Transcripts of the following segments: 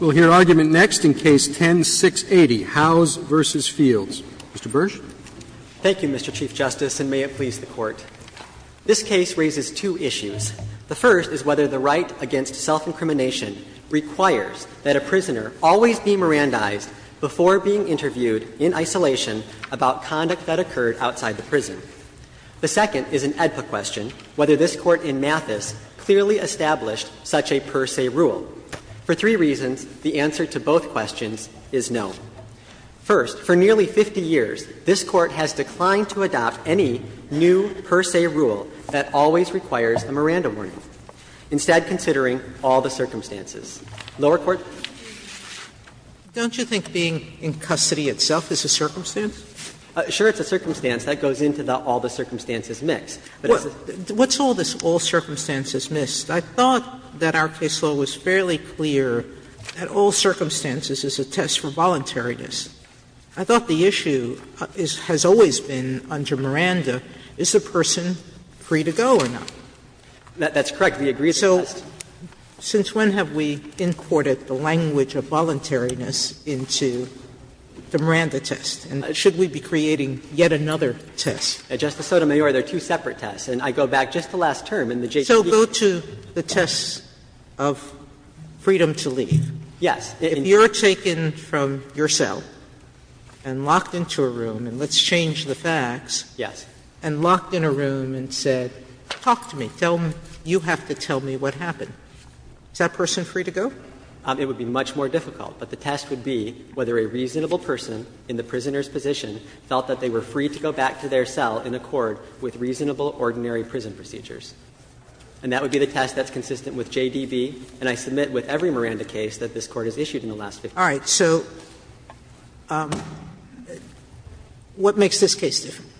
We'll hear argument next in Case 10-680, Howes v. Fields. Mr. Bursch. Thank you, Mr. Chief Justice, and may it please the Court. This case raises two issues. The first is whether the right against self-incrimination requires that a prisoner always be Mirandized before being interviewed in isolation about conduct that occurred outside the prison. The second is an AEDPA question, whether this Court in Mathis clearly established such a per se rule. For three reasons, the answer to both questions is no. First, for nearly 50 years, this Court has declined to adopt any new per se rule that always requires a Miranda warning, instead considering all the circumstances. Lower Court. Don't you think being in custody itself is a circumstance? Sure, it's a circumstance. That goes into the all-the-circumstances mix. What's all this all-circumstances mix? I thought that our case law was fairly clear that all circumstances is a test for voluntariness. I thought the issue has always been, under Miranda, is the person free to go or not. That's correct. We agree it's a test. So since when have we imported the language of voluntariness into the Miranda test? And should we be creating yet another test? Justice Sotomayor, there are two separate tests. And I go back just to last term in the JCPOA. So go to the test of freedom to leave. Yes. If you're taken from your cell and locked into a room, and let's change the facts, and locked in a room and said, talk to me, tell me, you have to tell me what happened, is that person free to go? It would be much more difficult. But the test would be whether a reasonable person in the prisoner's position felt that they were free to go back to their cell in accord with reasonable, ordinary prison procedures. And that would be the test that's consistent with JDB. And I submit with every Miranda case that this Court has issued in the last 50 years. Sotomayor, what makes this case different?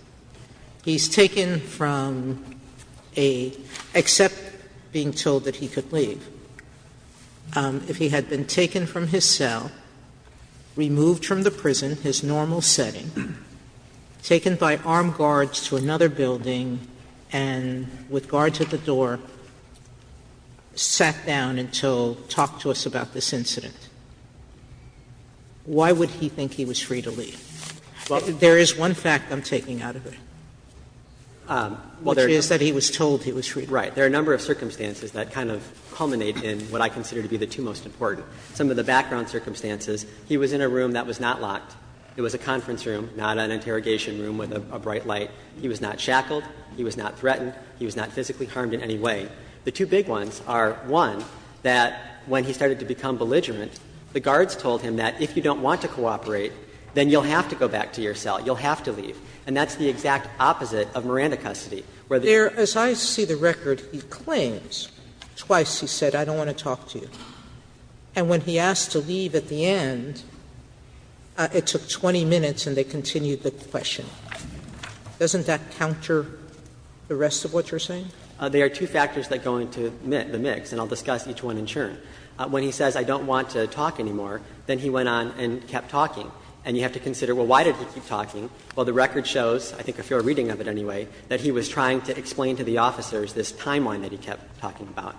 He's taken from a — except being told that he could leave. If he had been taken from his cell, removed from the prison, his normal setting, taken by armed guards to another building, and with guards at the door, sat down until, talk to us about this incident, why would he think he was free to leave? There is one fact I'm taking out of it, which is that he was told he was free to leave. There are a number of circumstances that kind of culminate in what I consider to be the two most important. Some of the background circumstances, he was in a room that was not locked. It was a conference room, not an interrogation room with a bright light. He was not shackled, he was not threatened, he was not physically harmed in any way. The two big ones are, one, that when he started to become belligerent, the guards told him that if you don't want to cooperate, then you'll have to go back to your cell, you'll have to leave. And that's the exact opposite of Miranda custody, where the guards are not allowed he was free to leave, and when he was asked to leave, he declared he claims. Twice he said, I don't want to talk to you. And when he asked to leave at the end, it took 20 minutes and they continued the question. Doesn't that counter the rest of what you're saying? They are two factors that go into the mix, and I'll discuss each one in turn. When he says, I don't want to talk anymore, then he went on and kept talking. And you have to consider, well, why did he keep talking? Well, the record shows, I think if you're reading of it anyway, that he was trying to explain to the officers this timeline that he kept talking about.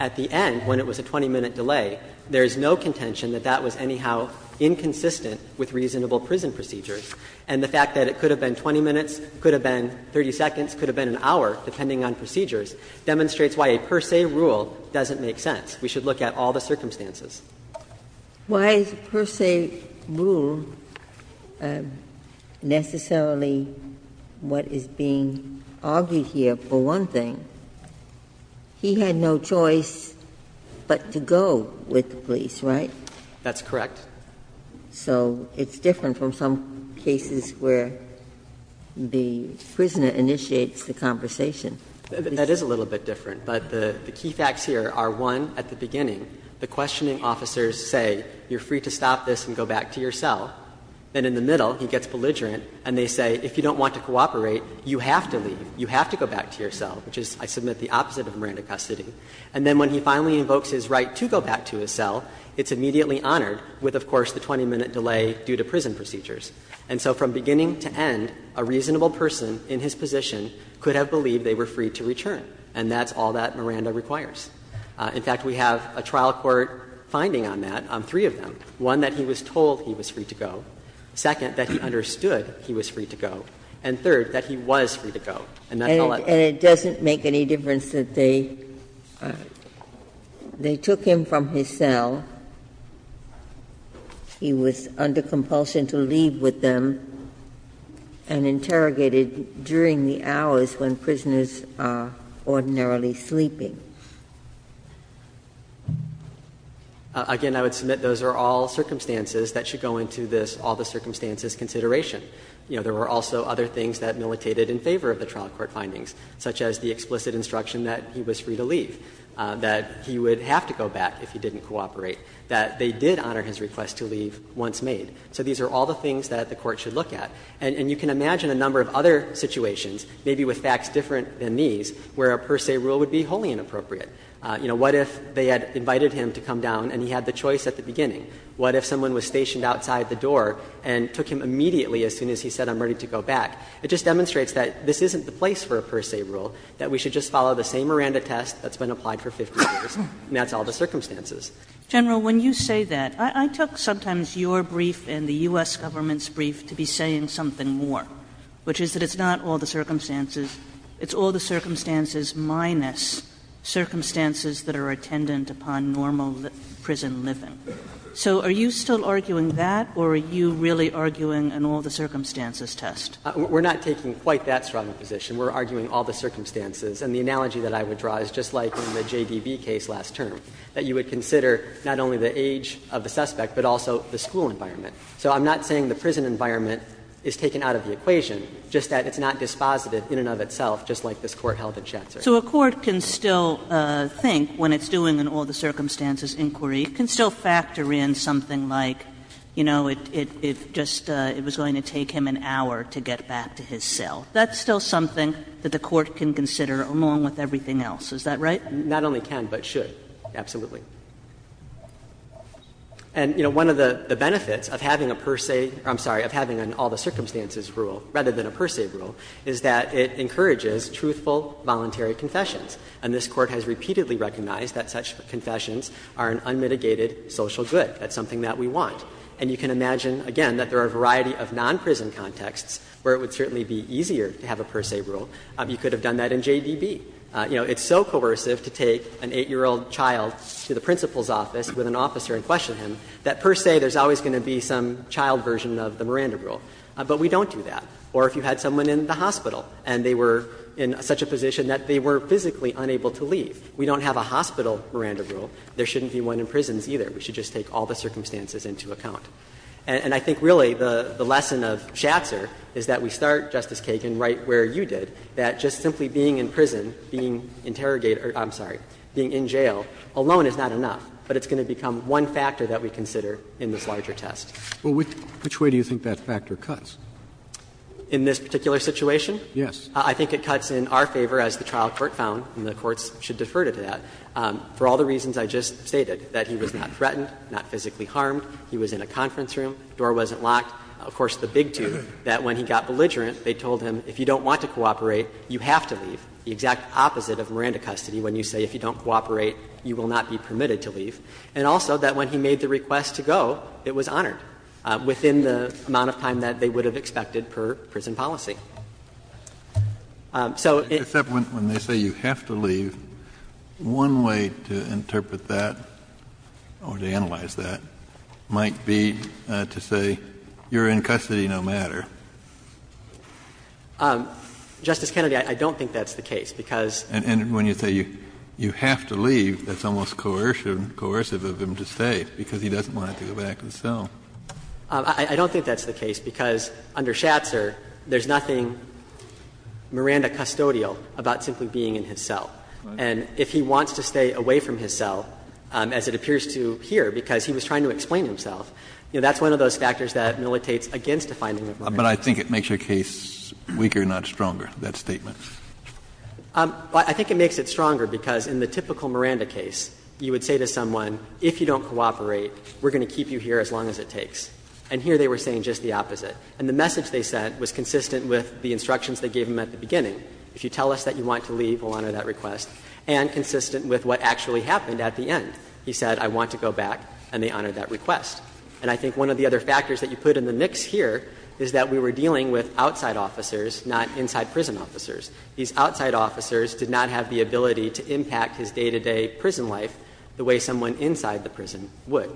At the end, when it was a 20-minute delay, there is no contention that that was anyhow inconsistent with reasonable prison procedures. And the fact that it could have been 20 minutes, could have been 30 seconds, could have been an hour, depending on procedures, demonstrates why a per se rule doesn't make sense. We should look at all the circumstances. Ginsburg. Why is a per se rule necessarily what is being argued here? For one thing, he had no choice but to go with the police, right? That's correct. So it's different from some cases where the prisoner initiates the conversation. That is a little bit different. But the key facts here are, one, at the beginning, the questioning officers say, you're free to stop this and go back to your cell. Then in the middle, he gets belligerent, and they say, if you don't want to cooperate, you have to leave, you have to go back to your cell, which is, I submit, the opposite of Miranda custody. And then when he finally invokes his right to go back to his cell, it's immediately honored, with, of course, the 20-minute delay due to prison procedures. And so from beginning to end, a reasonable person in his position could have believed they were free to return, and that's all that Miranda requires. In fact, we have a trial court finding on that, on three of them, one, that he was told he was free to go, second, that he understood he was free to go, and third, that he was free to go, and that's all that matters. Ginsburg-Miller And it doesn't make any difference that they took him from his cell. He was under compulsion to leave with them, and interrogated during the hours when prisoners are ordinarily sleeping. Burschelger Again, I would submit those are all circumstances that should go into this all-the-circumstances consideration. You know, there were also other things that militated in favor of the trial court findings. Such as the explicit instruction that he was free to leave, that he would have to go back if he didn't cooperate, that they did honor his request to leave once made. So these are all the things that the Court should look at. And you can imagine a number of other situations, maybe with facts different than these, where a per se rule would be wholly inappropriate. You know, what if they had invited him to come down and he had the choice at the beginning? What if someone was stationed outside the door and took him immediately as soon as he said, I'm ready to go back? It just demonstrates that this isn't the place for a per se rule, that we should just follow the same Miranda test that's been applied for 50 years, and that's all the circumstances. Kagan General, when you say that, I took sometimes your brief and the U.S. Government's brief to be saying something more, which is that it's not all the circumstances, it's all the circumstances minus circumstances that are attendant upon normal prison living. So are you still arguing that, or are you really arguing an all-the-circumstances test? We're not taking quite that strong a position. We're arguing all the circumstances. And the analogy that I would draw is just like in the J.D.B. case last term, that you would consider not only the age of the suspect, but also the school environment. So I'm not saying the prison environment is taken out of the equation, just that it's not dispositive in and of itself, just like this Court held in Schatzer. So a court can still think, when it's doing an all-the-circumstances inquiry, it can still factor in something like, you know, it just was going to take him an hour to get back to his cell. That's still something that the Court can consider, along with everything else. Is that right? Not only can, but should, absolutely. And, you know, one of the benefits of having a per se or, I'm sorry, of having an all-the-circumstances rule rather than a per se rule is that it encourages truthful, voluntary confessions. And this Court has repeatedly recognized that such confessions are an unmitigated social good. That's something that we want. And you can imagine, again, that there are a variety of non-prison contexts where it would certainly be easier to have a per se rule. You could have done that in JDB. You know, it's so coercive to take an 8-year-old child to the principal's office with an officer and question him that per se there's always going to be some child version of the Miranda rule. But we don't do that. Or if you had someone in the hospital and they were in such a position that they were physically unable to leave, we don't have a hospital Miranda rule. There shouldn't be one in prisons, either. We should just take all the circumstances into account. And I think really the lesson of Schatzer is that we start, Justice Kagan, right where you did, that just simply being in prison, being interrogated or, I'm sorry, being in jail alone is not enough. But it's going to become one factor that we consider in this larger test. Roberts. Well, which way do you think that factor cuts? In this particular situation? Yes. I think it cuts in our favor as the trial court found, and the courts should defer to that, for all the reasons I just stated, that he was not threatened, not physically harmed, he was in a conference room, door wasn't locked. Of course, the big two, that when he got belligerent, they told him if you don't want to cooperate, you have to leave. The exact opposite of Miranda custody when you say if you don't cooperate, you will not be permitted to leave. And also that when he made the request to go, it was honored within the amount of time that they would have expected per prison policy. So it's not going to cut that. Except when they say you have to leave, one way to interpret that, or to analyze that, might be to say you're in custody no matter. Justice Kennedy, I don't think that's the case, because you have to leave, that's almost coercive of him to say, because he doesn't want him to go back to the cell. I don't think that's the case, because under Schatzer, there's nothing Miranda custodial about simply being in his cell. And if he wants to stay away from his cell, as it appears to here, because he was trying to explain himself, that's one of those factors that militates against a finding of murder. Kennedy, but I think it makes your case weaker, not stronger, that statement. I think it makes it stronger, because in the typical Miranda case, you would say to And here they were saying just the opposite. And the message they sent was consistent with the instructions they gave him at the beginning. If you tell us that you want to leave, we'll honor that request. And consistent with what actually happened at the end. He said, I want to go back, and they honored that request. And I think one of the other factors that you put in the mix here is that we were dealing with outside officers, not inside prison officers. These outside officers did not have the ability to impact his day-to-day prison life the way someone inside the prison would.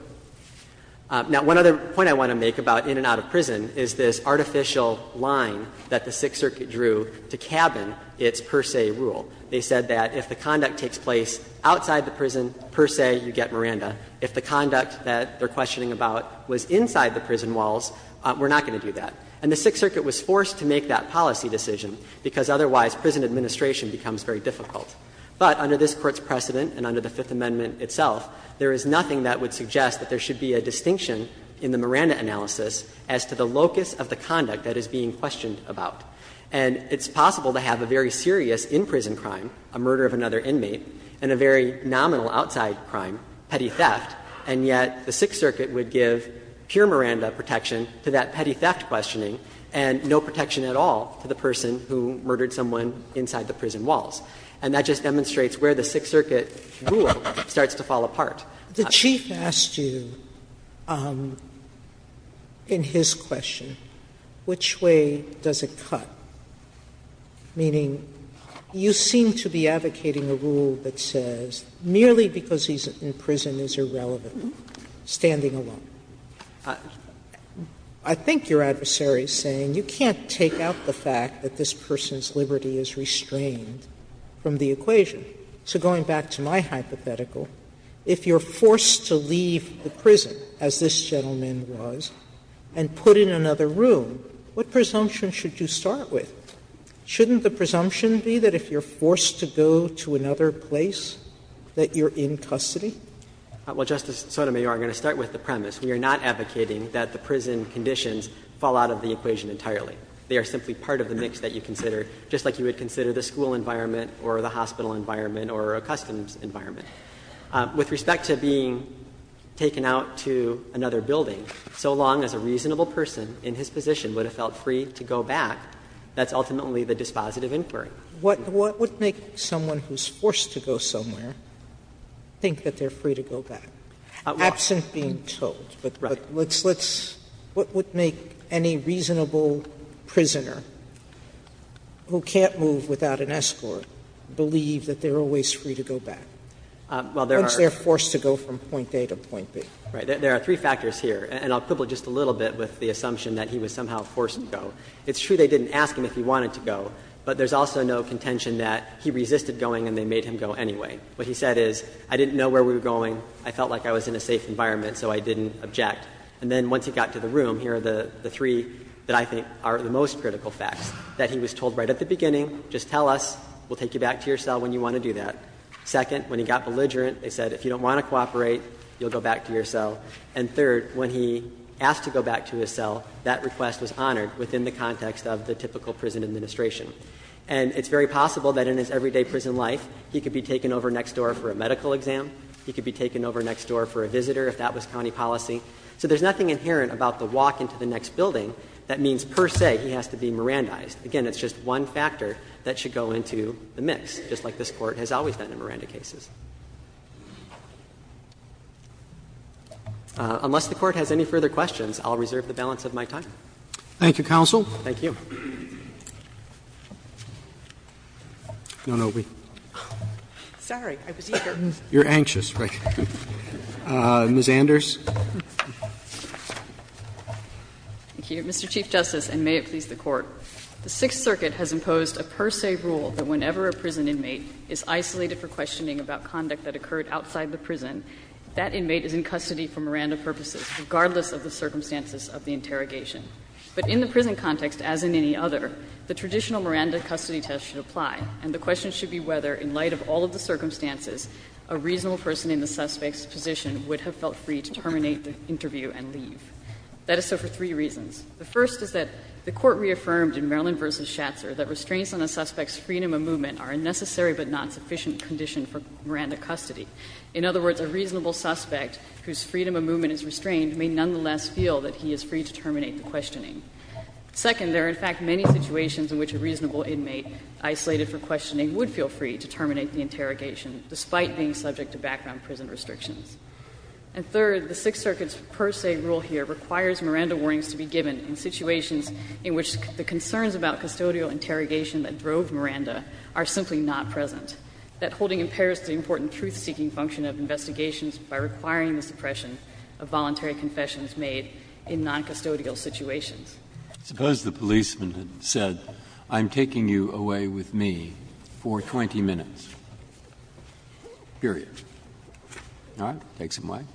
Now, one other point I want to make about in and out of prison is this artificial line that the Sixth Circuit drew to cabin its per se rule. They said that if the conduct takes place outside the prison, per se, you get Miranda. If the conduct that they're questioning about was inside the prison walls, we're not going to do that. And the Sixth Circuit was forced to make that policy decision, because otherwise prison administration becomes very difficult. But under this Court's precedent and under the Fifth Amendment itself, there is nothing that would suggest that there should be a distinction in the Miranda analysis as to the locus of the conduct that is being questioned about. And it's possible to have a very serious in-prison crime, a murder of another inmate, and a very nominal outside crime, petty theft, and yet the Sixth Circuit would give pure Miranda protection to that petty theft questioning and no protection at all to the person who murdered someone inside the prison walls. And that just demonstrates where the Sixth Circuit rule starts to fall apart. Sotomayor, the Chief asked you in his question, which way does it cut? Meaning, you seem to be advocating a rule that says merely because he's in prison is irrelevant, standing alone. I think your adversary is saying you can't take out the fact that this person's liberty is restrained from the equation. So going back to my hypothetical, if you're forced to leave the prison, as this gentleman was, and put in another room, what presumption should you start with? Shouldn't the presumption be that if you're forced to go to another place, that you're in custody? Well, Justice Sotomayor, I'm going to start with the premise. We are not advocating that the prison conditions fall out of the equation entirely. They are simply part of the mix that you consider, just like you would consider the school environment or the hospital environment or a customs environment. With respect to being taken out to another building, so long as a reasonable person in his position would have felt free to go back, that's ultimately the dispositive inquiry. Sotomayor, what would make someone who's forced to go somewhere think that they're free to go back, absent being told? Right. Sotomayor, what would make any reasonable prisoner who can't move without an escort believe that they're always free to go back? Once they're forced to go from point A to point B. Right. There are three factors here, and I'll quibble just a little bit with the assumption that he was somehow forced to go. It's true they didn't ask him if he wanted to go, but there's also no contention that he resisted going and they made him go anyway. What he said is, I didn't know where we were going, I felt like I was in a safe environment, so I didn't object. And then once he got to the room, here are the three that I think are the most critical facts, that he was told right at the beginning, just tell us, we'll take you back to your cell when you want to do that. Second, when he got belligerent, they said, if you don't want to cooperate, you'll go back to your cell. And third, when he asked to go back to his cell, that request was honored within the context of the typical prison administration. And it's very possible that in his everyday prison life, he could be taken over next door for a medical exam, he could be taken over next door for a visitor if that was county policy. So there's nothing inherent about the walk into the next building that means, per se, he has to be Mirandized. Again, it's just one factor that should go into the mix, just like this Court has always done in Miranda cases. Unless the Court has any further questions, I'll reserve the balance of my time. Thank you, counsel. Thank you. No, no, wait. Sorry, I was eager. You're anxious, right? Ms. Anders. Thank you, Mr. Chief Justice, and may it please the Court. The Sixth Circuit has imposed a per se rule that whenever a prison inmate is isolated for questioning about conduct that occurred outside the prison, that inmate is in custody for Miranda purposes, regardless of the circumstances of the interrogation. But in the prison context, as in any other, the traditional Miranda custody test should apply, and the question should be whether, in light of all of the circumstances, a reasonable person in the suspect's position would have felt free to terminate the interview and leave. That is so for three reasons. The first is that the Court reaffirmed in Maryland v. Schatzer that restraints on a suspect's freedom of movement are a necessary but not sufficient condition for Miranda custody. In other words, a reasonable suspect whose freedom of movement is restrained may nonetheless feel that he is free to terminate the questioning. Second, there are, in fact, many situations in which a reasonable inmate isolated for questioning would feel free to terminate the interrogation, despite being subject to background prison restrictions. And third, the Sixth Circuit's per se rule here requires Miranda warnings to be given in situations in which the concerns about custodial interrogation that drove Miranda are simply not present. That holding impairs the important truth-seeking function of investigations by requiring the suppression of voluntary confessions made in noncustodial situations. Breyer. Suppose the policeman had said, I'm taking you away with me for 20 minutes, period. All right? Take some wine,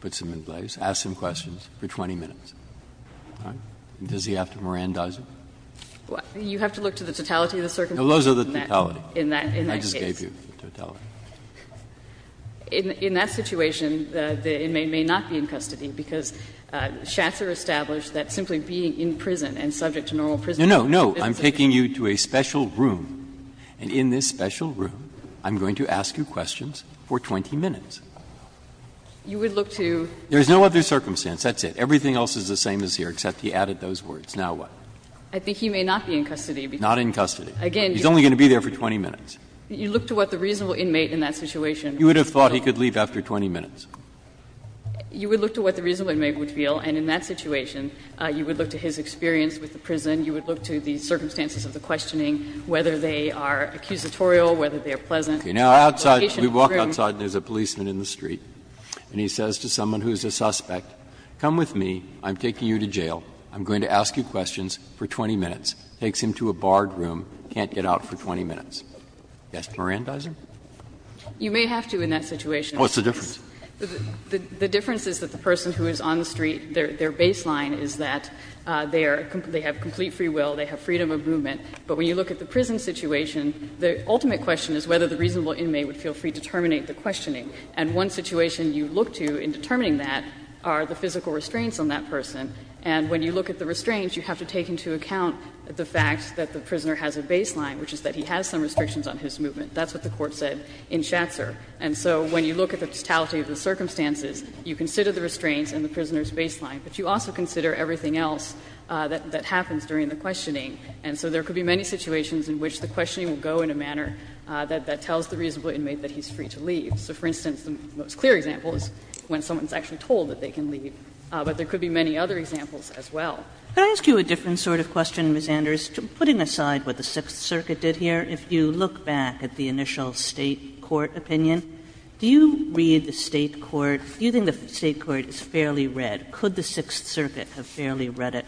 put some in place, ask some questions for 20 minutes. All right? Does he have to Mirandize it? You have to look to the totality of the circumstances in that case. No, those are the totality. I just gave you the totality. In that situation, the inmate may not be in custody because Schatzer established that simply being in prison and subject to normal prison restrictions is not sufficient. No, no. I'm taking you to a special room, and in this special room I'm going to ask you questions for 20 minutes. You would look to? There is no other circumstance. That's it. Everything else is the same as here, except he added those words. Now what? I think he may not be in custody because he's only going to be there for 20 minutes. You look to what the reasonable inmate in that situation would feel. You would have thought he could leave after 20 minutes. You would look to what the reasonable inmate would feel, and in that situation you would look to his experience with the prison. You would look to the circumstances of the questioning, whether they are accusatorial, whether they are pleasant. Now outside, we walk outside and there's a policeman in the street, and he says to someone who's a suspect, come with me, I'm taking you to jail, I'm going to ask you questions for 20 minutes. Takes him to a barred room, can't get out for 20 minutes. Yes, Mirandizer? You may have to in that situation. Oh, what's the difference? The difference is that the person who is on the street, their baseline is that they are they have complete free will, they have freedom of movement. But when you look at the prison situation, the ultimate question is whether the reasonable inmate would feel free to terminate the questioning. And one situation you look to in determining that are the physical restraints on that person. And when you look at the restraints, you have to take into account the fact that the prisoner has a baseline, which is that he has some restrictions on his movement. That's what the Court said in Schatzer. And so when you look at the totality of the circumstances, you consider the restraints and the prisoner's baseline, but you also consider everything else that happens during the questioning. And so there could be many situations in which the questioning will go in a manner that tells the reasonable inmate that he's free to leave. So, for instance, the most clear example is when someone is actually told that they can leave. But there could be many other examples as well. Kagan. Kagan. Can I ask you a different sort of question, Ms. Anders, putting aside what the Sixth Circuit has read in the State court opinion? Do you read the State court, do you think the State court has fairly read, could the Sixth Circuit have fairly read it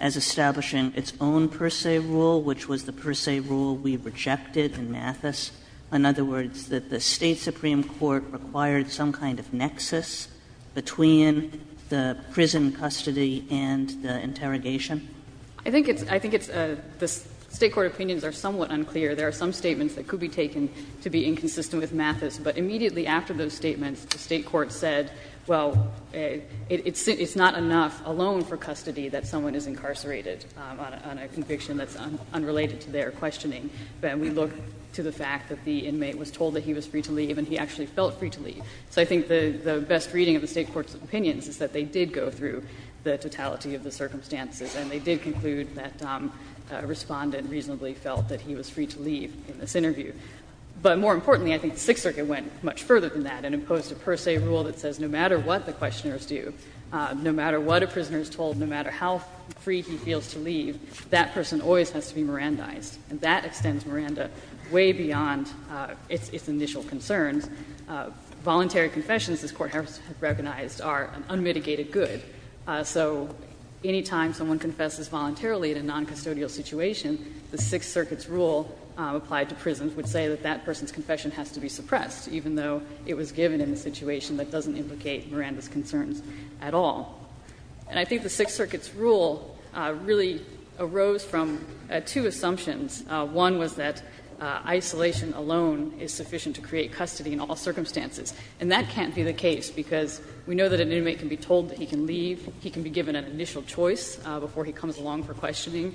as establishing its own per se rule, which was the per se rule we rejected in Mathis, in other words, that the State supreme court required some kind of nexus between the prison custody and the interrogation? Anders, I think it's the State court opinions are somewhat unclear. There are some statements that could be taken to be inconsistent with Mathis, but immediately after those statements, the State court said, well, it's not enough alone for custody that someone is incarcerated on a conviction that's unrelated to their questioning. And we look to the fact that the inmate was told that he was free to leave and he actually felt free to leave. So I think the best reading of the State court's opinions is that they did go through the totality of the circumstances and they did conclude that a respondent reasonably felt that he was free to leave in this interview. But more importantly, I think the Sixth Circuit went much further than that and imposed a per se rule that says no matter what the questioners do, no matter what a prisoner is told, no matter how free he feels to leave, that person always has to be Mirandized. And that extends Miranda way beyond its initial concerns. Voluntary confessions, as the Court has recognized, are an unmitigated good. So any time someone confesses voluntarily in a noncustodial situation, the Sixth Circuit's rule applied to prisons would say that that person's confession has to be suppressed, even though it was given in a situation that doesn't implicate Miranda's concerns at all. And I think the Sixth Circuit's rule really arose from two assumptions. One was that isolation alone is sufficient to create custody in all circumstances. And that can't be the case, because we know that an inmate can be told that he can leave, he can be given an initial choice before he comes along for questioning,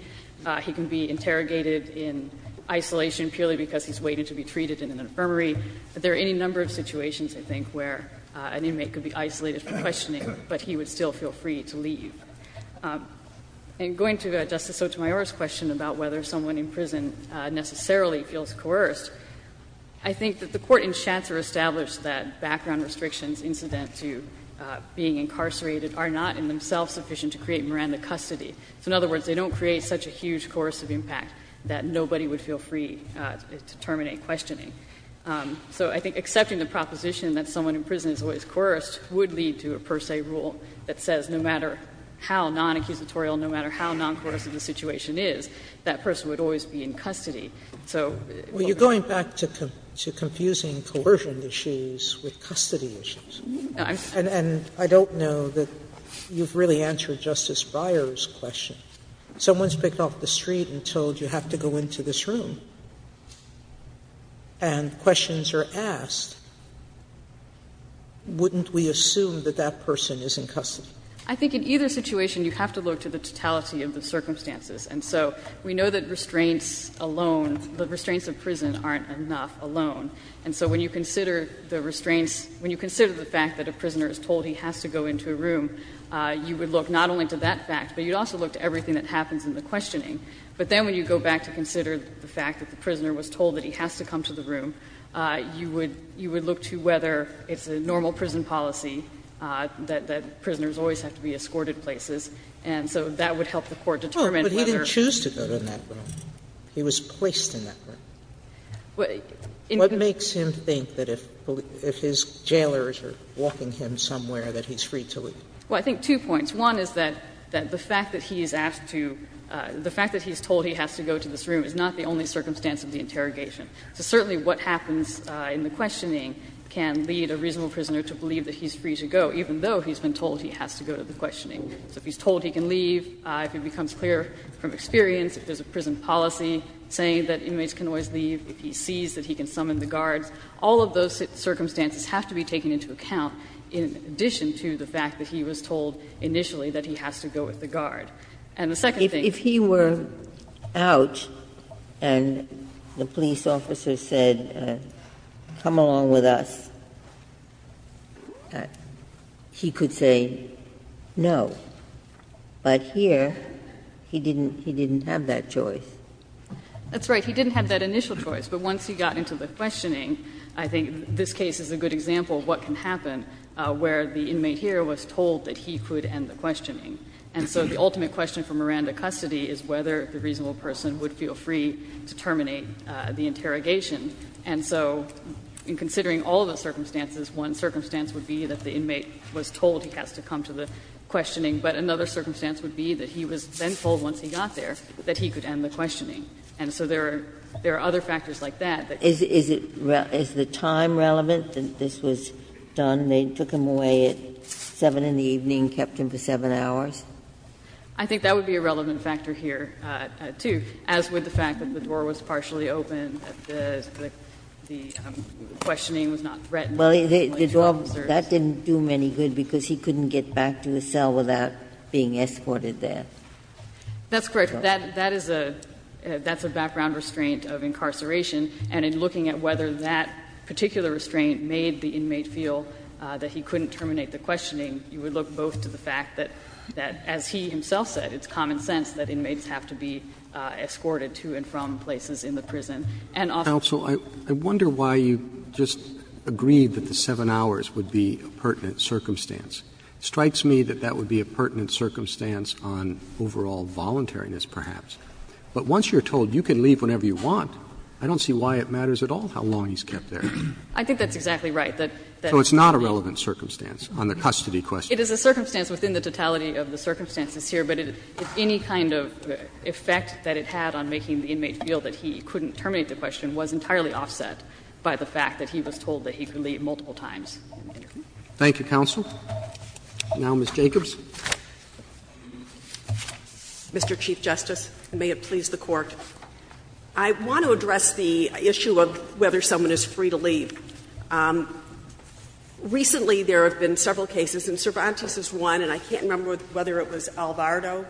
he can be interrogated in isolation purely because he's waiting to be treated in an infirmary. There are any number of situations, I think, where an inmate could be isolated for questioning, but he would still feel free to leave. And going to Justice Sotomayor's question about whether someone in prison necessarily feels coerced, I think that the Court in Shatzer established that background restrictions incident to being incarcerated are not in themselves sufficient to create Miranda custody. So in other words, they don't create such a huge coercive impact that nobody would feel free to terminate questioning. So I think accepting the proposition that someone in prison is always coerced would lead to a per se rule that says no matter how non-accusatorial, no matter how non-coercive the situation is, that person would always be in custody. So what we're saying is that the Court in Shatzer established that background restrictions incident to being incarcerated are not in themselves sufficient to create Miranda custody. Sotomayor's question was about the children issues with custody issues. And I don't know that you've really answered Justice Breyer's question. Someone's picked off the street and told you have to go into this room, and questions are asked, wouldn't we assume that that person is in custody? I think in either situation you have to look to the totality of the circumstances. And so we know that restraints alone, the restraints of prison aren't enough alone. And so when you consider the restraints, when you consider the fact that a prisoner is told he has to go into a room, you would look not only to that fact, but you'd also look to everything that happens in the questioning. But then when you go back to consider the fact that the prisoner was told that he has to come to the room, you would look to whether it's a normal prison policy that prisoners always have to be escorted places. And so that would help the Court determine whether the person is in custody. Sotomayor, you didn't choose to go to that room. He was placed in that room. What makes him think that if his jailers are walking him somewhere that he's free to leave? Well, I think two points. One is that the fact that he is asked to — the fact that he's told he has to go to this room is not the only circumstance of the interrogation. So certainly what happens in the questioning can lead a reasonable prisoner to believe that he's free to go, even though he's been told he has to go to the questioning. So if he's told he can leave, if it becomes clear from experience, if there's a prison policy saying that inmates can always leave, if he sees that he can summon the guards, all of those circumstances have to be taken into account in addition to the fact that he was told initially that he has to go with the guard. And the second thing is that he has to go with the guards. But here he didn't — he didn't have that choice. That's right. He didn't have that initial choice. But once he got into the questioning, I think this case is a good example of what can happen where the inmate here was told that he could end the questioning. And so the ultimate question for Miranda custody is whether the reasonable person would feel free to terminate the interrogation. And so in considering all of the circumstances, one circumstance would be that the he was then told once he got there that he could end the questioning. And so there are other factors like that. Is it — is the time relevant that this was done? They took him away at 7 in the evening and kept him for 7 hours? I think that would be a relevant factor here, too, as would the fact that the door was partially open, that the questioning was not threatened by the military officers. Well, the door — that didn't do him any good, because he couldn't get back to his cell without being escorted there. That's correct. That is a — that's a background restraint of incarceration. And in looking at whether that particular restraint made the inmate feel that he couldn't terminate the questioning, you would look both to the fact that, as he himself said, it's common sense that inmates have to be escorted to and from places in the prison. And also, I wonder why you just agreed that the 7 hours would be a pertinent circumstance. It strikes me that that would be a pertinent circumstance on overall voluntariness, perhaps. But once you're told you can leave whenever you want, I don't see why it matters at all how long he's kept there. I think that's exactly right. That's not a relevant circumstance on the custody question. It is a circumstance within the totality of the circumstances here, but it — if any kind of effect that it had on making the inmate feel that he couldn't terminate the question was entirely offset by the fact that he was told that he could leave multiple times. Thank you. Roberts. Thank you, counsel. Now Ms. Jacobs. Mr. Chief Justice, and may it please the Court. I want to address the issue of whether someone is free to leave. Recently, there have been several cases, and Cervantes is one, and I can't remember whether it was Alvarado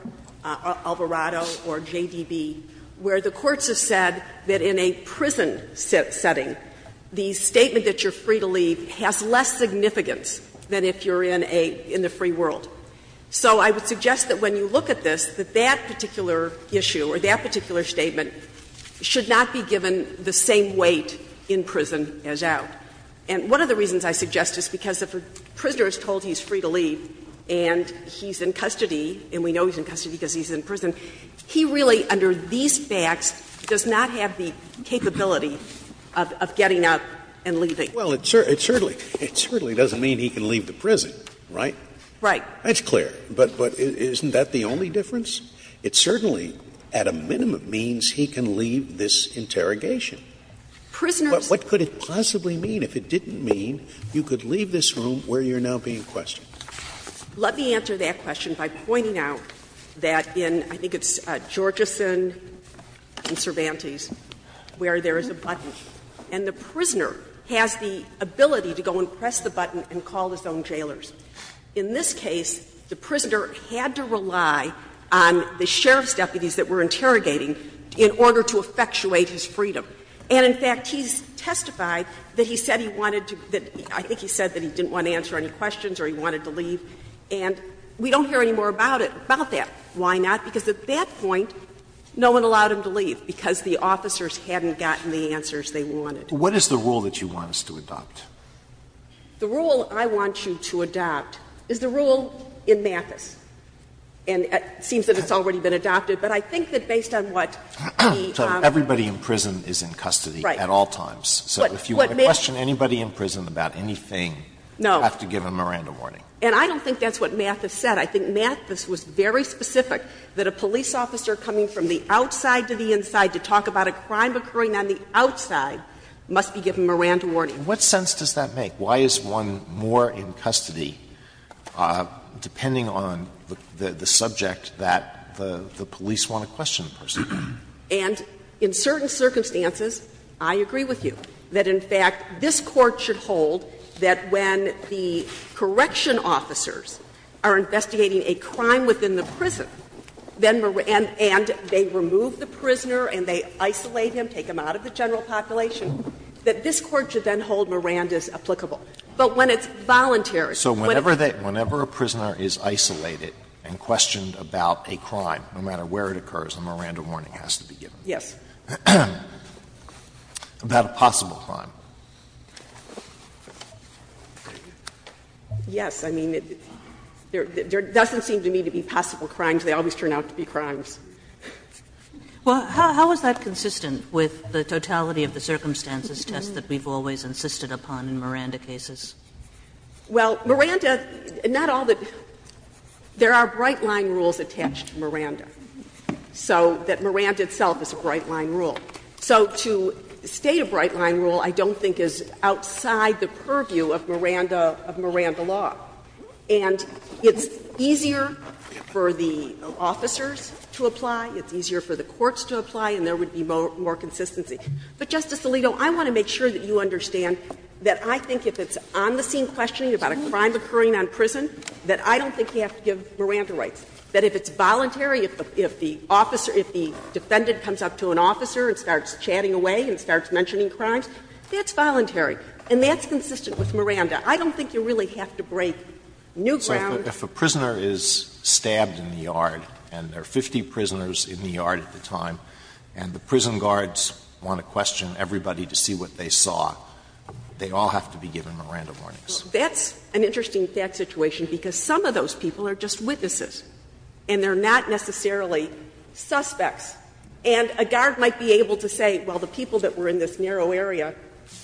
or J.D.B., where the courts have said that in a prison setting, the statement that you're free to leave has less significance than if you're in a — in the free world. So I would suggest that when you look at this, that that particular issue or that particular statement should not be given the same weight in prison as out. And one of the reasons I suggest is because if a prisoner is told he's free to leave and he's in custody, and we know he's in custody because he's in prison, he really, under these facts, does not have the capability of getting up and leaving. Scalia Well, it certainly doesn't mean he can leave the prison, right? Jacobs Right. Scalia That's clear. But isn't that the only difference? It certainly, at a minimum, means he can leave this interrogation. Jacobs Prisoners. Scalia But what could it possibly mean if it didn't mean you could leave this room where you're now being questioned? Jacobs Let me answer that question by pointing out that in, I think it's Georgeson and Cervantes, where there is a button, and the prisoner has the ability to go and press the button and call his own jailers. In this case, the prisoner had to rely on the sheriff's deputies that were interrogating in order to effectuate his freedom. And, in fact, he's testified that he said he wanted to — that I think he said that he didn't want to answer any questions or he wanted to leave. And we don't hear any more about it, about that. Why not? Because at that point, no one allowed him to leave because the officers hadn't gotten the answers they wanted. Alito What is the rule that you want us to adopt? Jacobs The rule I want you to adopt is the rule in Mathis. And it seems that it's already been adopted, but I think that based on what the — Alito So everybody in prison is in custody at all times. Jacobs Right. Alito If you want to question anybody in prison about anything, you have to give them a Miranda warning. Jacobs And I don't think that's what Mathis said. I think Mathis was very specific that a police officer coming from the outside to the inside to talk about a crime occurring on the outside must be given a Miranda warning. Alito What sense does that make? Why is one more in custody, depending on the subject that the police want to question the person? Jacobs And in certain circumstances, I agree with you that, in fact, this Court should hold that when the correction officers are investigating a crime within the prison, and they remove the prisoner and they isolate him, take him out of the general population, that this Court should then hold Mirandas applicable. But when it's voluntary, when it's not, then it's not applicable. Alito So whenever a prisoner is isolated and questioned about a crime, no matter where it occurs, a Miranda warning has to be given. Jacobs Yes. Alito About a possible crime. Jacobs Yes. I mean, there doesn't seem to me to be possible crimes. They always turn out to be crimes. Kagan Well, how is that consistent with the totality of the circumstances test that we've always insisted upon in Miranda cases? Jacobs Well, Miranda, not all the – there are bright-line rules attached to Miranda. So that Miranda itself is a bright-line rule. So to state a bright-line rule I don't think is outside the purview of Miranda – of Miranda law. And it's easier for the officers to apply, it's easier for the courts to apply, and there would be more consistency. But, Justice Alito, I want to make sure that you understand that I think if it's on the scene questioning about a crime occurring on prison, that I don't think you have to give Miranda rights. That if it's voluntary, if the officer – if the defendant comes up to an officer and starts chatting away and starts mentioning crimes, that's voluntary. And that's consistent with Miranda. I don't think you really have to break new ground. Alito So if a prisoner is stabbed in the yard and there are 50 prisoners in the yard at the time, and the prison guards want to question everybody to see what they saw, they all have to be given Miranda warnings? Jacobs Well, that's an interesting fact situation, because some of those people are just witnesses, and they're not necessarily suspects. And a guard might be able to say, well, the people that were in this narrow area,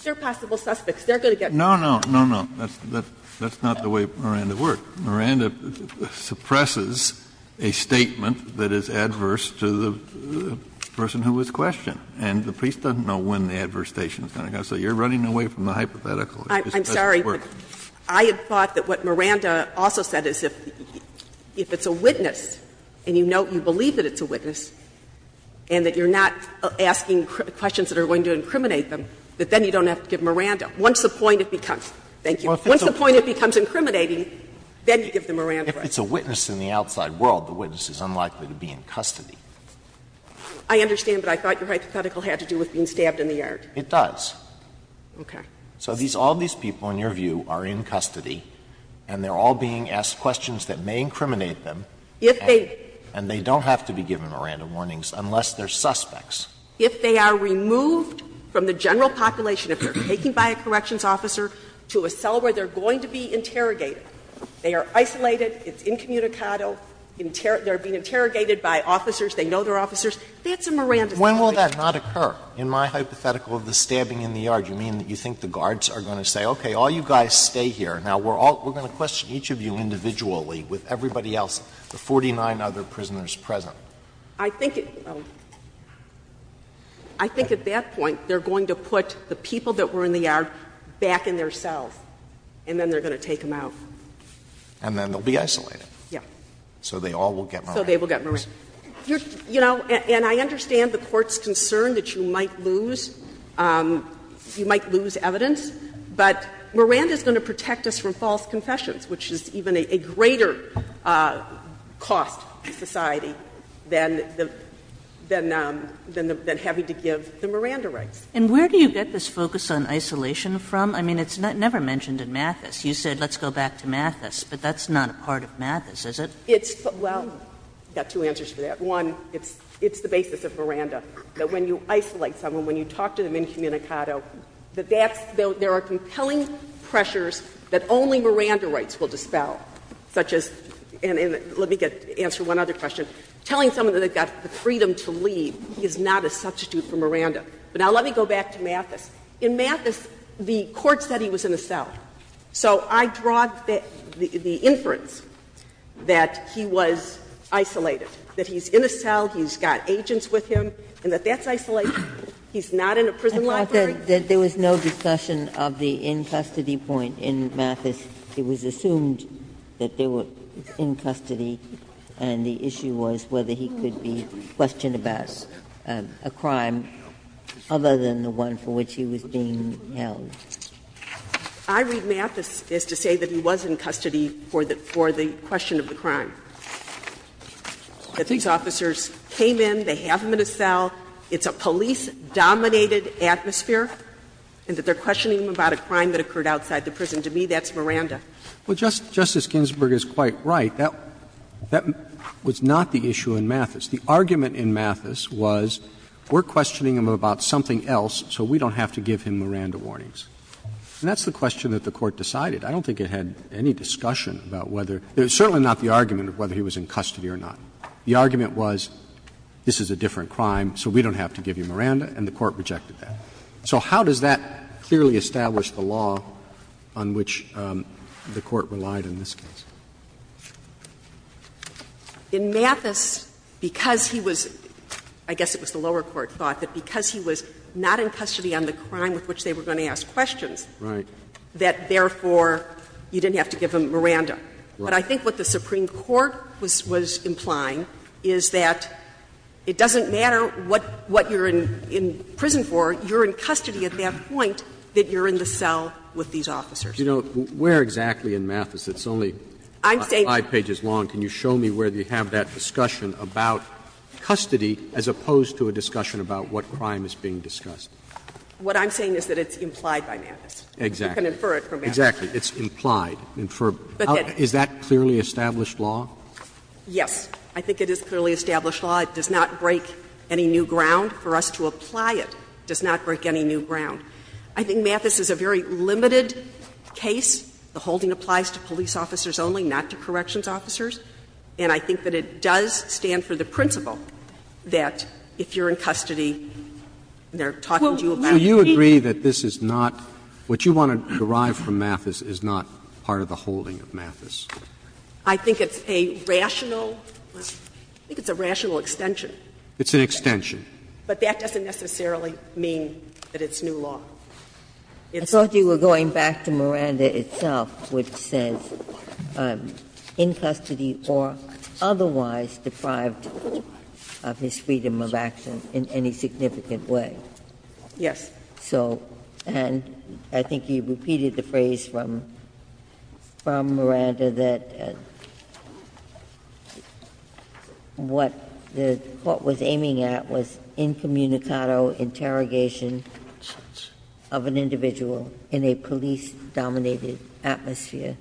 they're possible suspects. They're going to get caught. Kennedy No, no, no, no. That's not the way Miranda worked. Miranda suppresses a statement that is adverse to the person who was questioned. And the priest doesn't know when the adverse station is going to go. So you're running away from the hypothetical. Jacobs I'm sorry. I had thought that what Miranda also said is if it's a witness, and you know, you believe that it's a witness, and that you're not asking questions that are going to incriminate them, that then you don't have to give Miranda. Once the point becomes, thank you, once the point becomes incriminating, then you give the Miranda right. Alito If it's a witness in the outside world, the witness is unlikely to be in custody. Jacobs I understand, but I thought your hypothetical had to do with being stabbed in the yard. Alito It does. Jacobs Okay. Alito So all these people, in your view, are in custody, and they're all being asked questions that may incriminate them. Jacobs If they Alito And they don't have to be given Miranda warnings, unless they're suspects. Jacobs If they are removed from the general population, if they're taken by a corrections officer to a cell where they're going to be interrogated, they are isolated, it's incommunicado, they're being interrogated by officers, they know they're officers, that's a Miranda situation. Alito When will that not occur? In my hypothetical of the stabbing in the yard, you mean that you think the guards are going to say, okay, all you guys stay here. Now, we're all going to question each of you individually, with everybody else, the 49 other prisoners present. Jacobs I think at that point, they're going to put the people that were in the yard back in their cells, and then they're going to take them out. Alito And then they'll be isolated. Jacobs Yes. Alito So they all will get Miranda. Jacobs So they will get Miranda. Kagan You know, and I understand the Court's concern that you might lose, you might lose evidence, but Miranda is going to protect us from false confessions, which is even a greater cost to society than the, than having to give the Miranda rights. Kagan And where do you get this focus on isolation from? I mean, it's never mentioned in Mathis. You said let's go back to Mathis, but that's not a part of Mathis, is it? It's, well, I've got two answers for that. One, it's, it's the basis of Miranda, that when you isolate someone, when you talk to them incommunicado, that that's, there are compelling pressures that only Miranda rights will dispel, such as, and let me get, answer one other question, telling someone that they've got the freedom to leave is not a substitute for Miranda. But now let me go back to Mathis. In Mathis, the Court said he was in a cell. So I draw the inference that he was isolated, that he's in a cell, he's got agents with him, and that that's isolation. He's not in a prison library. Ginsburg I thought that there was no discussion of the in-custody point in Mathis. It was assumed that they were in custody, and the issue was whether he could be questioned about a crime other than the one for which he was being held. I read Mathis as to say that he was in custody for the, for the question of the crime. That these officers came in, they have him in a cell, it's a police-dominated atmosphere, and that they're questioning him about a crime that occurred outside the prison. To me, that's Miranda. Roberts. Well, Justice Ginsburg is quite right. That, that was not the issue in Mathis. The argument in Mathis was we're questioning him about something else, so we don't have to give him Miranda warnings. And that's the question that the Court decided. I don't think it had any discussion about whether – it was certainly not the argument of whether he was in custody or not. The argument was this is a different crime, so we don't have to give you Miranda, and the Court rejected that. So how does that clearly establish the law on which the Court relied in this case? In Mathis, because he was – I guess it was the lower court thought that because he was not in custody on the crime with which they were going to ask questions. Roberts. Right. That, therefore, you didn't have to give him Miranda. Right. But I think what the Supreme Court was implying is that it doesn't matter what you're in prison for, you're in custody at that point that you're in the cell with these officers. You know, where exactly in Mathis? It's only five pages long. Can you show me where you have that discussion about custody as opposed to a discussion about what crime is being discussed? What I'm saying is that it's implied by Mathis. Exactly. You can infer it from Mathis. Exactly. It's implied. Is that clearly established law? Yes. I think it is clearly established law. It does not break any new ground. For us to apply it does not break any new ground. I think Mathis is a very limited case. The holding applies to police officers only, not to corrections officers. And I think that it does stand for the principle that if you're in custody, they're talking to you about it. So you agree that this is not what you want to derive from Mathis is not part of the holding of Mathis? I think it's a rational – I think it's a rational extension. It's an extension. But that doesn't necessarily mean that it's new law. I thought you were going back to Miranda itself, which says, in custody or otherwise deprived of his freedom of action in any significant way. Yes. So – and I think you repeated the phrase from Miranda that what the court was aiming at was incommunicado interrogation of an individual in a police-dominated atmosphere.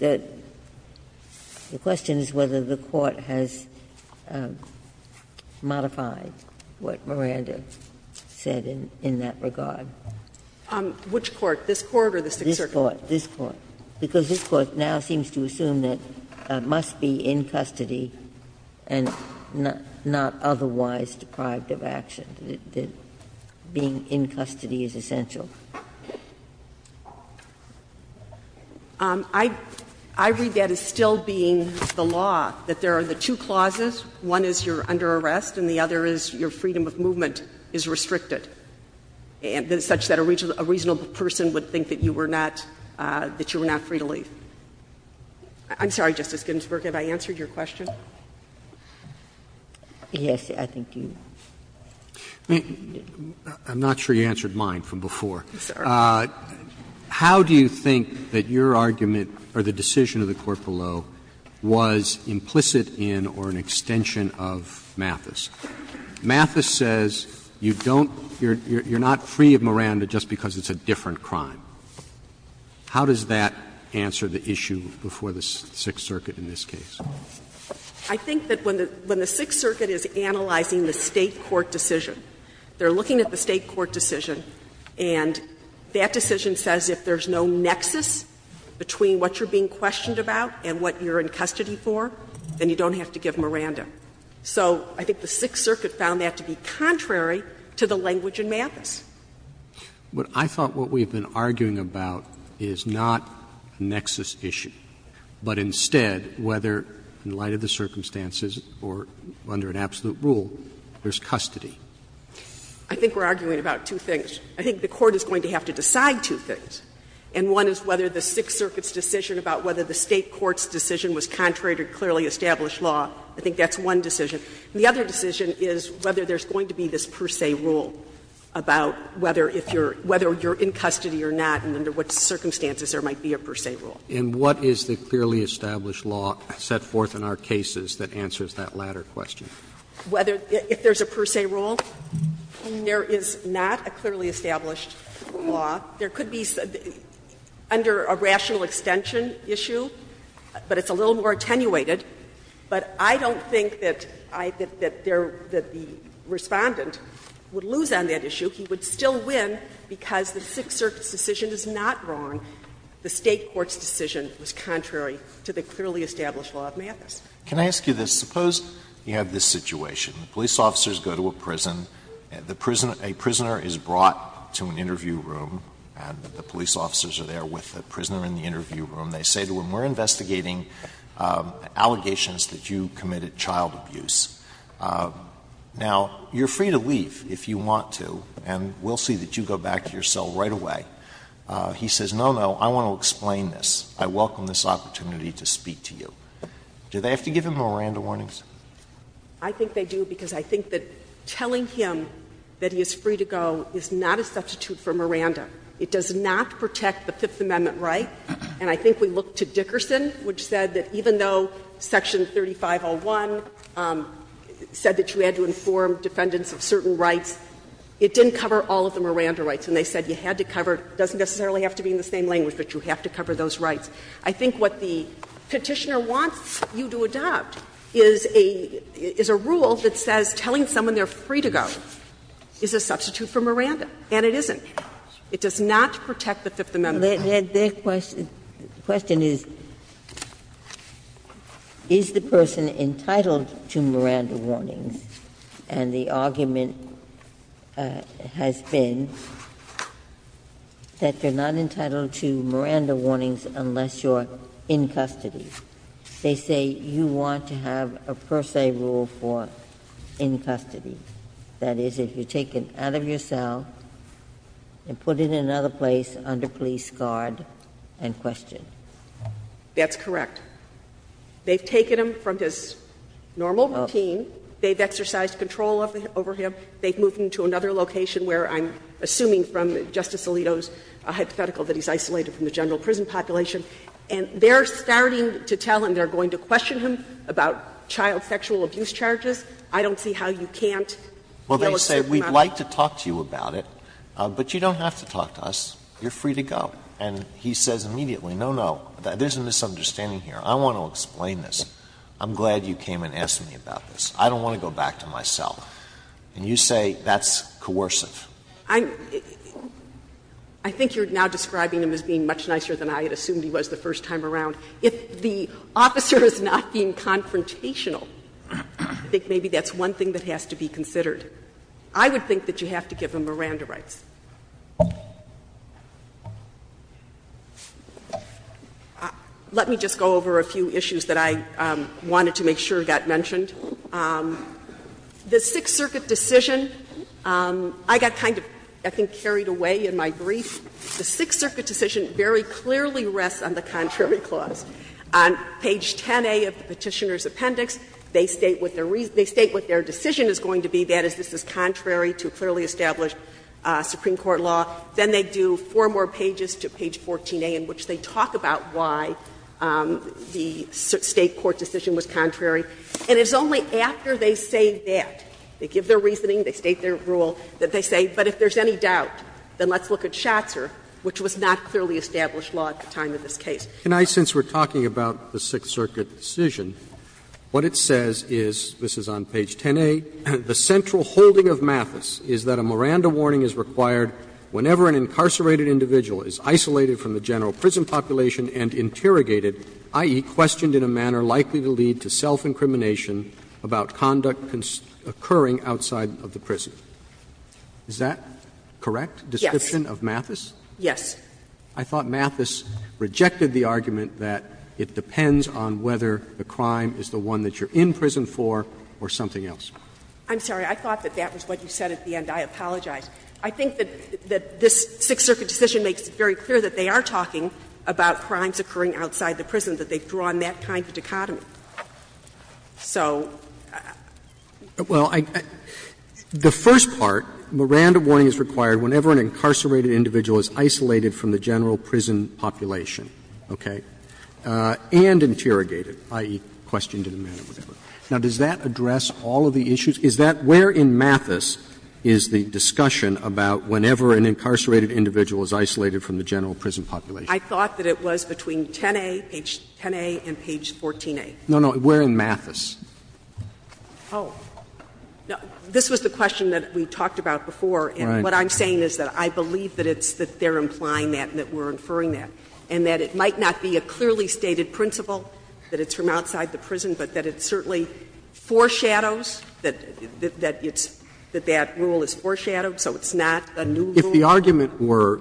The question is whether the court has modified what Miranda said in that regard. Which court? This court or the Sixth Circuit? This court. This court, because this court now seems to assume that it must be in custody and not otherwise deprived of action, that being in custody is essential. I read that as still being the law, that there are the two clauses. One is you're under arrest, and the other is your freedom of movement is restricted, such that a reasonable person would think that you were not – that you were not free to leave. I'm sorry, Justice Ginsburg, have I answered your question? Yes, I think you have. I'm not sure you answered mine from before. How do you think that your argument, or the decision of the court below, was implicit in or an extension of Mathis? Mathis says you don't – you're not free of Miranda just because it's a different crime. How does that answer the issue before the Sixth Circuit in this case? I think that when the Sixth Circuit is analyzing the State court decision, they're looking at the State court decision, and that decision says if there's no nexus between what you're being questioned about and what you're in custody for, then you don't have to give Miranda. So I think the Sixth Circuit found that to be contrary to the language in Mathis. But I thought what we've been arguing about is not a nexus issue, but instead whether, in light of the circumstances or under an absolute rule, there's custody. I think we're arguing about two things. I think the court is going to have to decide two things, and one is whether the Sixth Circuit's decision about whether the State court's decision was contrary to clearly established law. I think that's one decision. And the other decision is whether there's going to be this per se rule about whether if you're – whether you're in custody or not and under what circumstances there might be a per se rule. And what is the clearly established law set forth in our cases that answers that latter question? Whether – if there's a per se rule, there is not a clearly established law. There could be under a rational extension issue, but it's a little more attenuated. But I don't think that I – that the Respondent would lose on that issue. He would still win because the Sixth Circuit's decision is not wrong. The State court's decision was contrary to the clearly established law of Mathis. Can I ask you this? Suppose you have this situation. Police officers go to a prison. The prisoner – a prisoner is brought to an interview room, and the police officers are there with the prisoner in the interview room. They say to him, we're investigating allegations that you committed child abuse. Now, you're free to leave if you want to, and we'll see that you go back to your cell right away. He says, no, no, I want to explain this. I welcome this opportunity to speak to you. Do they have to give him Miranda warnings? I think they do, because I think that telling him that he is free to go is not a substitute for Miranda. It does not protect the Fifth Amendment right. And I think we look to Dickerson, which said that even though section 3501 said that you had to inform defendants of certain rights, it didn't cover all of the Miranda rights. And they said you had to cover – it doesn't necessarily have to be in the same language, but you have to cover those rights. I think what the Petitioner wants you to adopt is a rule that says telling someone they're free to go is a substitute for Miranda, and it isn't. It does not protect the Fifth Amendment. Ginsburg's question is, is the person entitled to Miranda warnings? And the argument has been that they're not entitled to Miranda warnings unless you're in custody. They say you want to have a per se rule for in custody. That is, if you take him out of your cell and put him in another place under police guard and question. That's correct. They've taken him from his normal routine. They've exercised control over him. They've moved him to another location where I'm assuming from Justice Alito's hypothetical that he's isolated from the general prison population. And they're starting to tell him, they're going to question him about child sexual abuse charges. I don't see how you can't deal with certain amounts of law. Alito, but you don't have to talk to us. You're free to go. And he says immediately, no, no, there's a misunderstanding here. I want to explain this. I'm glad you came and asked me about this. I don't want to go back to my cell. And you say that's coercive. I think you're now describing him as being much nicer than I had assumed he was the first time around. If the officer is not being confrontational, I think maybe that's one thing that has to be considered. I would think that you have to give him Miranda rights. Let me just go over a few issues that I wanted to make sure got mentioned. The Sixth Circuit decision, I got kind of, I think, carried away in my brief. The Sixth Circuit decision very clearly rests on the contrary clause. On page 10a of the Petitioner's Appendix, they state what their reason they state what their decision is going to be, that is, this is contrary to clearly established Supreme Court law. Then they do four more pages to page 14a in which they talk about why the State court decision was contrary. And it's only after they say that, they give their reasoning, they state their rule, that they say, but if there's any doubt, then let's look at Schatzer, which was not clearly established law at the time of this case. Roberts Can I, since we're talking about the Sixth Circuit decision, what it says is, this is on page 10a, the central holding of Mathis is that a Miranda warning is required whenever an incarcerated individual is isolated from the general prison population and interrogated, i.e., questioned in a manner likely to lead to self-incrimination about conduct occurring outside of the prison. Is that correct? Description of Mathis? Yes. I thought Mathis rejected the argument that it depends on whether the crime is the one that you're in prison for or something else. I'm sorry. I thought that that was what you said at the end. I apologize. I think that this Sixth Circuit decision makes it very clear that they are talking about crimes occurring outside the prison, that they've drawn that kind of dichotomy. So the first part, Miranda warning is required whenever an incarcerated individual is isolated from the general prison population, okay, and interrogated, i.e., questioned in a manner, whatever. Now, does that address all of the issues? Is that where in Mathis is the discussion about whenever an incarcerated individual is isolated from the general prison population? I thought that it was between 10a, page 10a, and page 14a. No, no, we're in Mathis. Oh. This was the question that we talked about before, and what I'm saying is that I believe that it's that they're implying that and that we're inferring that, and that it might not be a clearly stated principle that it's from outside the prison, but that it certainly foreshadows that it's that that rule is foreshadowed, so it's not a new rule. Roberts If the argument were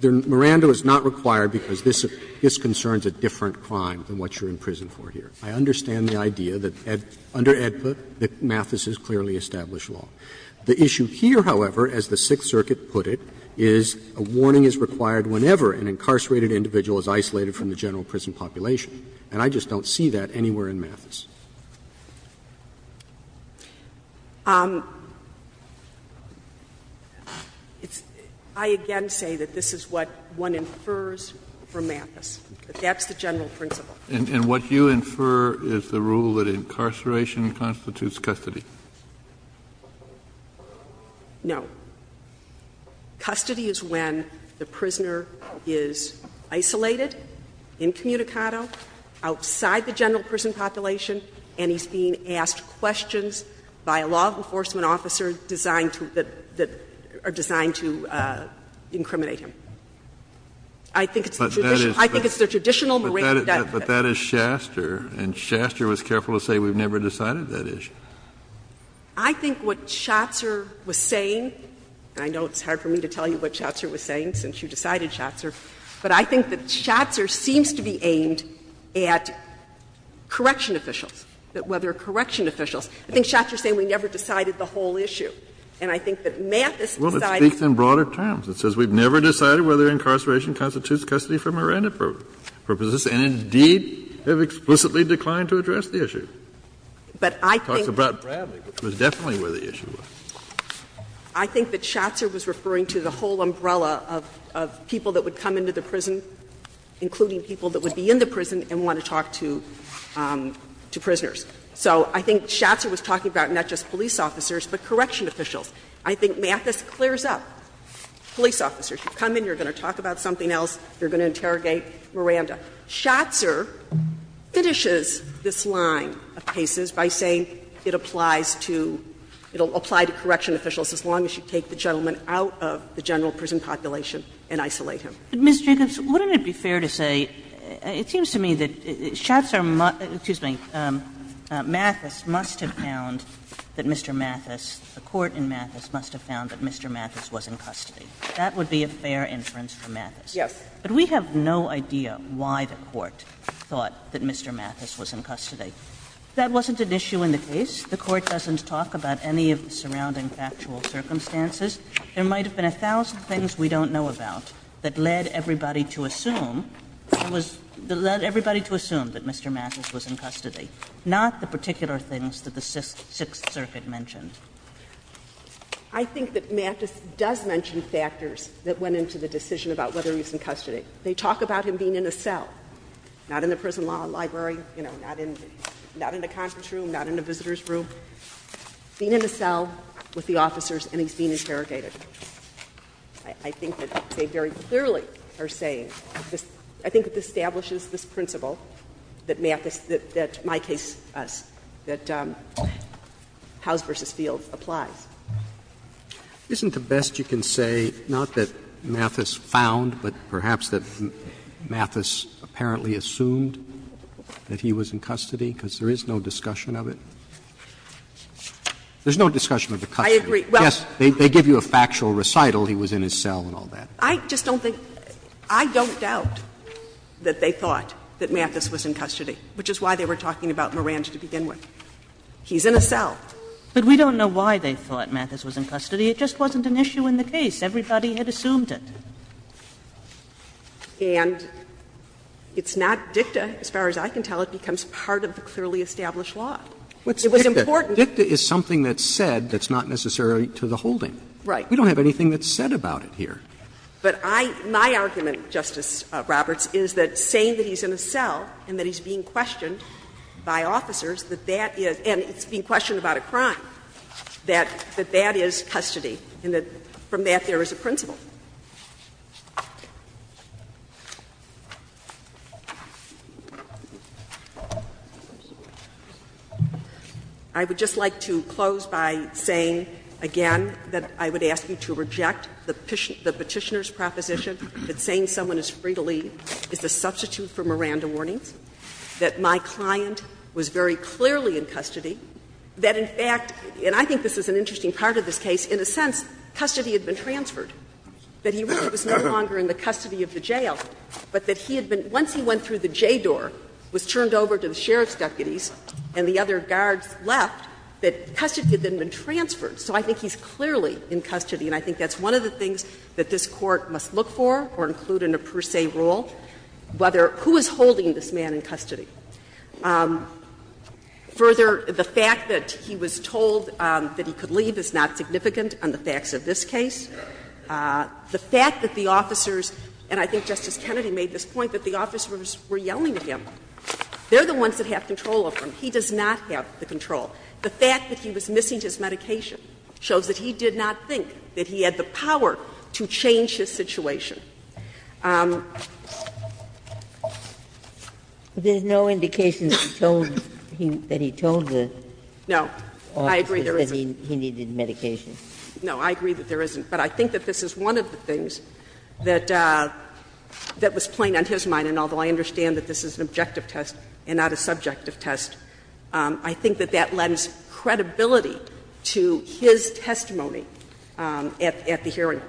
that Miranda is not required because this concerns a different crime than what you're in prison for here, I understand the idea that under AEDPA that Mathis is clearly established law. The issue here, however, as the Sixth Circuit put it, is a warning is required whenever an incarcerated individual is isolated from the general prison population, and I just don't see that anywhere in Mathis. I, again, say that this is what one infers from Mathis, that that's the general principle. And what you infer is the rule that incarceration constitutes custody. No. Custody is when the prisoner is isolated, incommunicado, outside the general prison population, and he's being asked questions by a law enforcement officer designed to incriminate him. I think it's the traditional Miranda definition. Kennedy But that is Shaster, and Shaster was careful to say we've never decided that issue. O'Connor I think what Schatzer was saying, and I know it's hard for me to tell you what Schatzer was saying since you decided Schatzer, but I think that Schatzer seems to be aimed at correction officials, that whether correction officials – I think Schatzer is saying we never decided the whole issue. And I think that Mathis decided Kennedy Well, it speaks in broader terms. It says we've never decided whether incarceration constitutes custody for Miranda purposes, and indeed, they've explicitly declined to address the issue. It talks about Bradley, which was definitely where the issue was. O'Connor I think that Shatzer was referring to the whole umbrella of people that would come into the prison, including people that would be in the prison and want to talk to prisoners. So I think Shatzer was talking about not just police officers, but correction officials. I think Mathis clears up police officers. You come in, you're going to talk about something else, you're going to interrogate Miranda. Shatzer finishes this line of cases by saying it applies to – it will apply to correction officials as long as you take the gentleman out of the general prison population and isolate him. Ms. Jacobs, wouldn't it be fair to say – it seems to me that Shatzer – excuse me – Mathis must have found that Mr. Mathis – the court in Mathis must have found that Mr. Mathis was in custody. That would be a fair inference for Mathis. Yes. But we have no idea why the court thought that Mr. Mathis was in custody. That wasn't an issue in the case. The court doesn't talk about any of the surrounding factual circumstances. There might have been a thousand things we don't know about that led everybody to assume that Mr. Mathis was in custody, not the particular things that the Sixth Circuit mentioned. I think that Mathis does mention factors that went into the decision about whether he was in custody. They talk about him being in a cell – not in the prison law library, you know, not in a conference room, not in a visitor's room – being in a cell with the officers and he's being interrogated. I think that they very clearly are saying – I think it establishes this principle that Mathis – that my case – that House v. Field applies. Isn't the best you can say not that Mathis found, but perhaps that Mathis apparently assumed that he was in custody, because there is no discussion of it? There's no discussion of the custody. I agree. Yes, they give you a factual recital, he was in his cell and all that. I just don't think – I don't doubt that they thought that Mathis was in custody, which is why they were talking about Morant to begin with. He's in a cell. But we don't know why they thought Mathis was in custody. It just wasn't an issue in the case. Everybody had assumed it. And it's not dicta, as far as I can tell. It becomes part of the clearly established law. It was important. Dicta is something that's said that's not necessarily to the holding. Right. We don't have anything that's said about it here. But I – my argument, Justice Roberts, is that saying that he's in a cell and that he's being questioned by officers, that that is – and it's being questioned about a crime, that that is custody and that from that there is a principle. I would just like to close by saying again that I would ask you to reject the Petitioner's proposition that saying someone is free to leave is a substitute for Miranda warnings, that my client was very clearly in custody, that in fact – and I think this is an interesting part of this case – in a sense, custody had been transferred. That he really was no longer in the custody of the jail, but that he had been – once he went through the J door, was turned over to the sheriff's deputies, and the other guards left, that custody had then been transferred. So I think he's clearly in custody, and I think that's one of the things that this Court must look for or include in a per se rule, whether – who is holding this man in custody. Further, the fact that he was told that he could leave is not significant on the facts of this case. The fact that the officers – and I think Justice Kennedy made this point – that the officers were yelling at him, they're the ones that have control of him. He does not have the control. The fact that he was missing his medication shows that he did not think that he had the power to change his situation. Ginsburg-Gilmore There's no indication that he told the officers that he needed medication. No, I agree that there isn't. But I think that this is one of the things that was plain on his mind, and although I understand that this is an objective test and not a subjective test, I think that that lends credibility to his testimony at the hearing.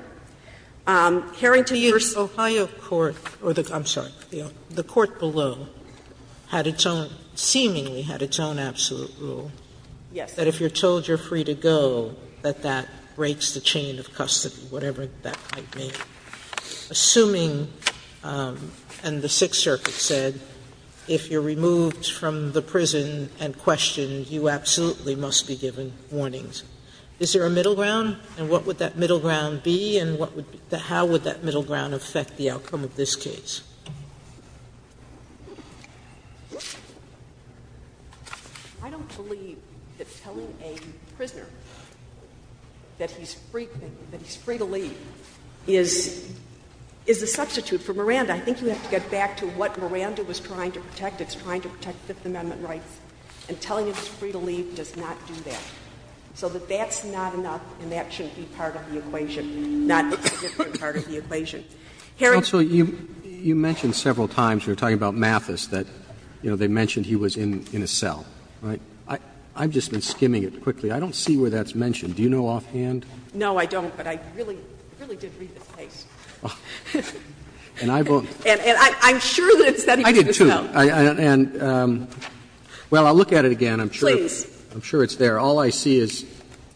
Hearing to the first – Sotomayor The Ohio court – or the – I'm sorry, the court below had its own – seemingly had its own absolute rule. That breaks the chain of custody, whatever that might mean. Assuming – and the Sixth Circuit said, if you're removed from the prison and questioned, you absolutely must be given warnings. Is there a middle ground? And what would that middle ground be? And what would – how would that middle ground affect the outcome of this case? I don't believe that telling a prisoner that he's free to leave is a substitute for Miranda. I think you have to get back to what Miranda was trying to protect. It's trying to protect Fifth Amendment rights. And telling him he's free to leave does not do that. So that that's not enough, and that shouldn't be part of the equation, not a significant part of the equation. Hearing – Roberts Also, you mentioned several times, you were talking about Mathis, that, you know, they mentioned he was in a cell, right? I've just been skimming it quickly. I don't see where that's mentioned. Do you know offhand? No, I don't. But I really, really did read the case. And I've – And I'm sure that it's that he was in a cell. I did, too. And, well, I'll look at it again. I'm sure – Please. I'm sure it's there. All I see is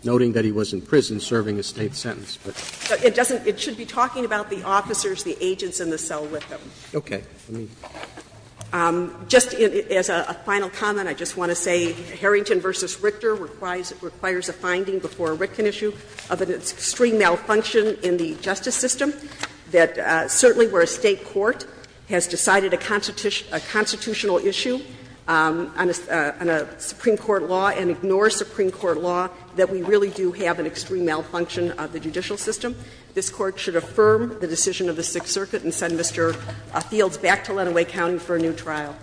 noting that he was in prison serving a State sentence. But it doesn't – it should be talking about the officers, the agents in the cell with him. Okay. Let me – Just as a final comment, I just want to say Harrington v. Richter requires a finding before a Ritkin issue of an extreme malfunction in the justice system that certainly where a State court has decided a constitutional issue on a Supreme Court law and ignores Supreme Court law, that we really do have an extreme malfunction of the judicial system. This Court should affirm the decision of the Sixth Circuit and send Mr. Fields back to Lenawee County for a new trial.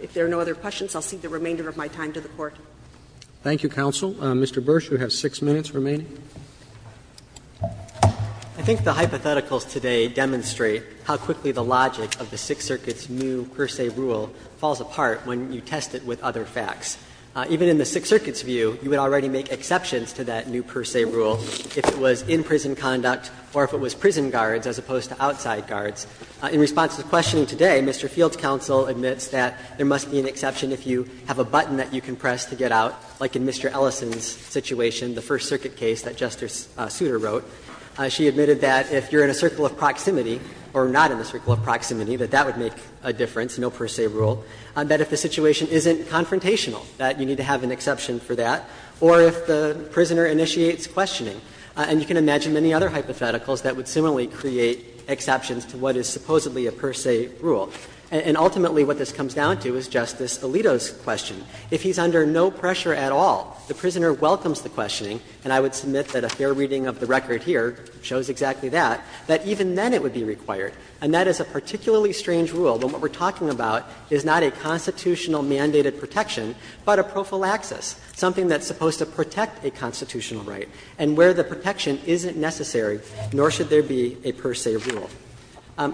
If there are no other questions, I'll cede the remainder of my time to the Court. Thank you, counsel. Mr. Bursch, you have six minutes remaining. I think the hypotheticals today demonstrate how quickly the logic of the Sixth Circuit's new per se rule falls apart when you test it with other facts. Even in the Sixth Circuit's view, you would already make exceptions to that new per se rule if it was in-prison conduct or if it was prison guards as opposed to outside guards. In response to the questioning today, Mr. Fields' counsel admits that there must be an exception if you have a button that you can press to get out, like in Mr. Ellison's situation, the First Circuit case that Justice Souter wrote. She admitted that if you're in a circle of proximity or not in a circle of proximity, that that would make a difference, no per se rule. That if the situation isn't confrontational, that you need to have an exception for that. Or if the prisoner initiates questioning. And you can imagine many other hypotheticals that would similarly create exceptions to what is supposedly a per se rule. And ultimately what this comes down to is Justice Alito's question. If he's under no pressure at all, the prisoner welcomes the questioning, and I would submit that a fair reading of the record here shows exactly that, that even then it would be required. And that is a particularly strange rule when what we're talking about is not a constitutional mandated protection, but a prophylaxis, something that's supposed to protect a constitutional right. And where the protection isn't necessary, nor should there be a per se rule.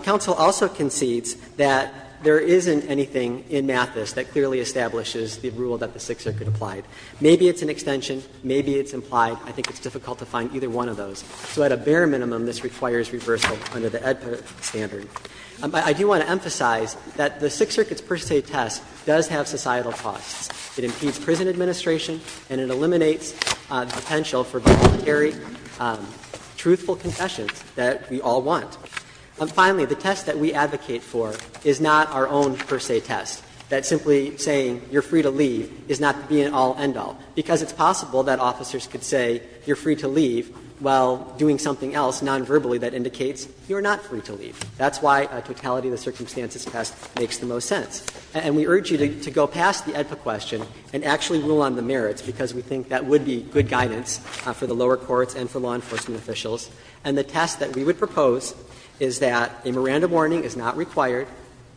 Counsel also concedes that there isn't anything in Mathis that clearly establishes the rule that the Sixth Circuit applied. Maybe it's an extension, maybe it's implied. I think it's difficult to find either one of those. So at a bare minimum, this requires reversal under the Edpert standard. I do want to emphasize that the Sixth Circuit's per se test does have societal costs. It impedes prison administration and it eliminates the potential for voluntary, truthful confessions that we all want. And finally, the test that we advocate for is not our own per se test, that simply saying you're free to leave is not the be-all, end-all, because it's possible that officers could say you're free to leave while doing something else non-verbally that indicates you're not free to leave. That's why a totality of the circumstances test makes the most sense. And we urge you to go past the Edpert question and actually rule on the merits, because we think that would be good guidance for the lower courts and for law enforcement officials. And the test that we would propose is that a Miranda warning is not required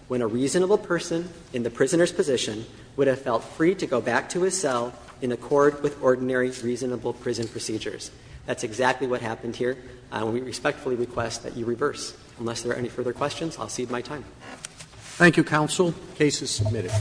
when a reasonable person in the prisoner's position would have felt free to go back to his cell in accord with ordinary, reasonable prison procedures. That's exactly what happened here. We respectfully request that you reverse. Unless there are any further questions, I'll cede my time. Roberts. Thank you, counsel. The case is submitted.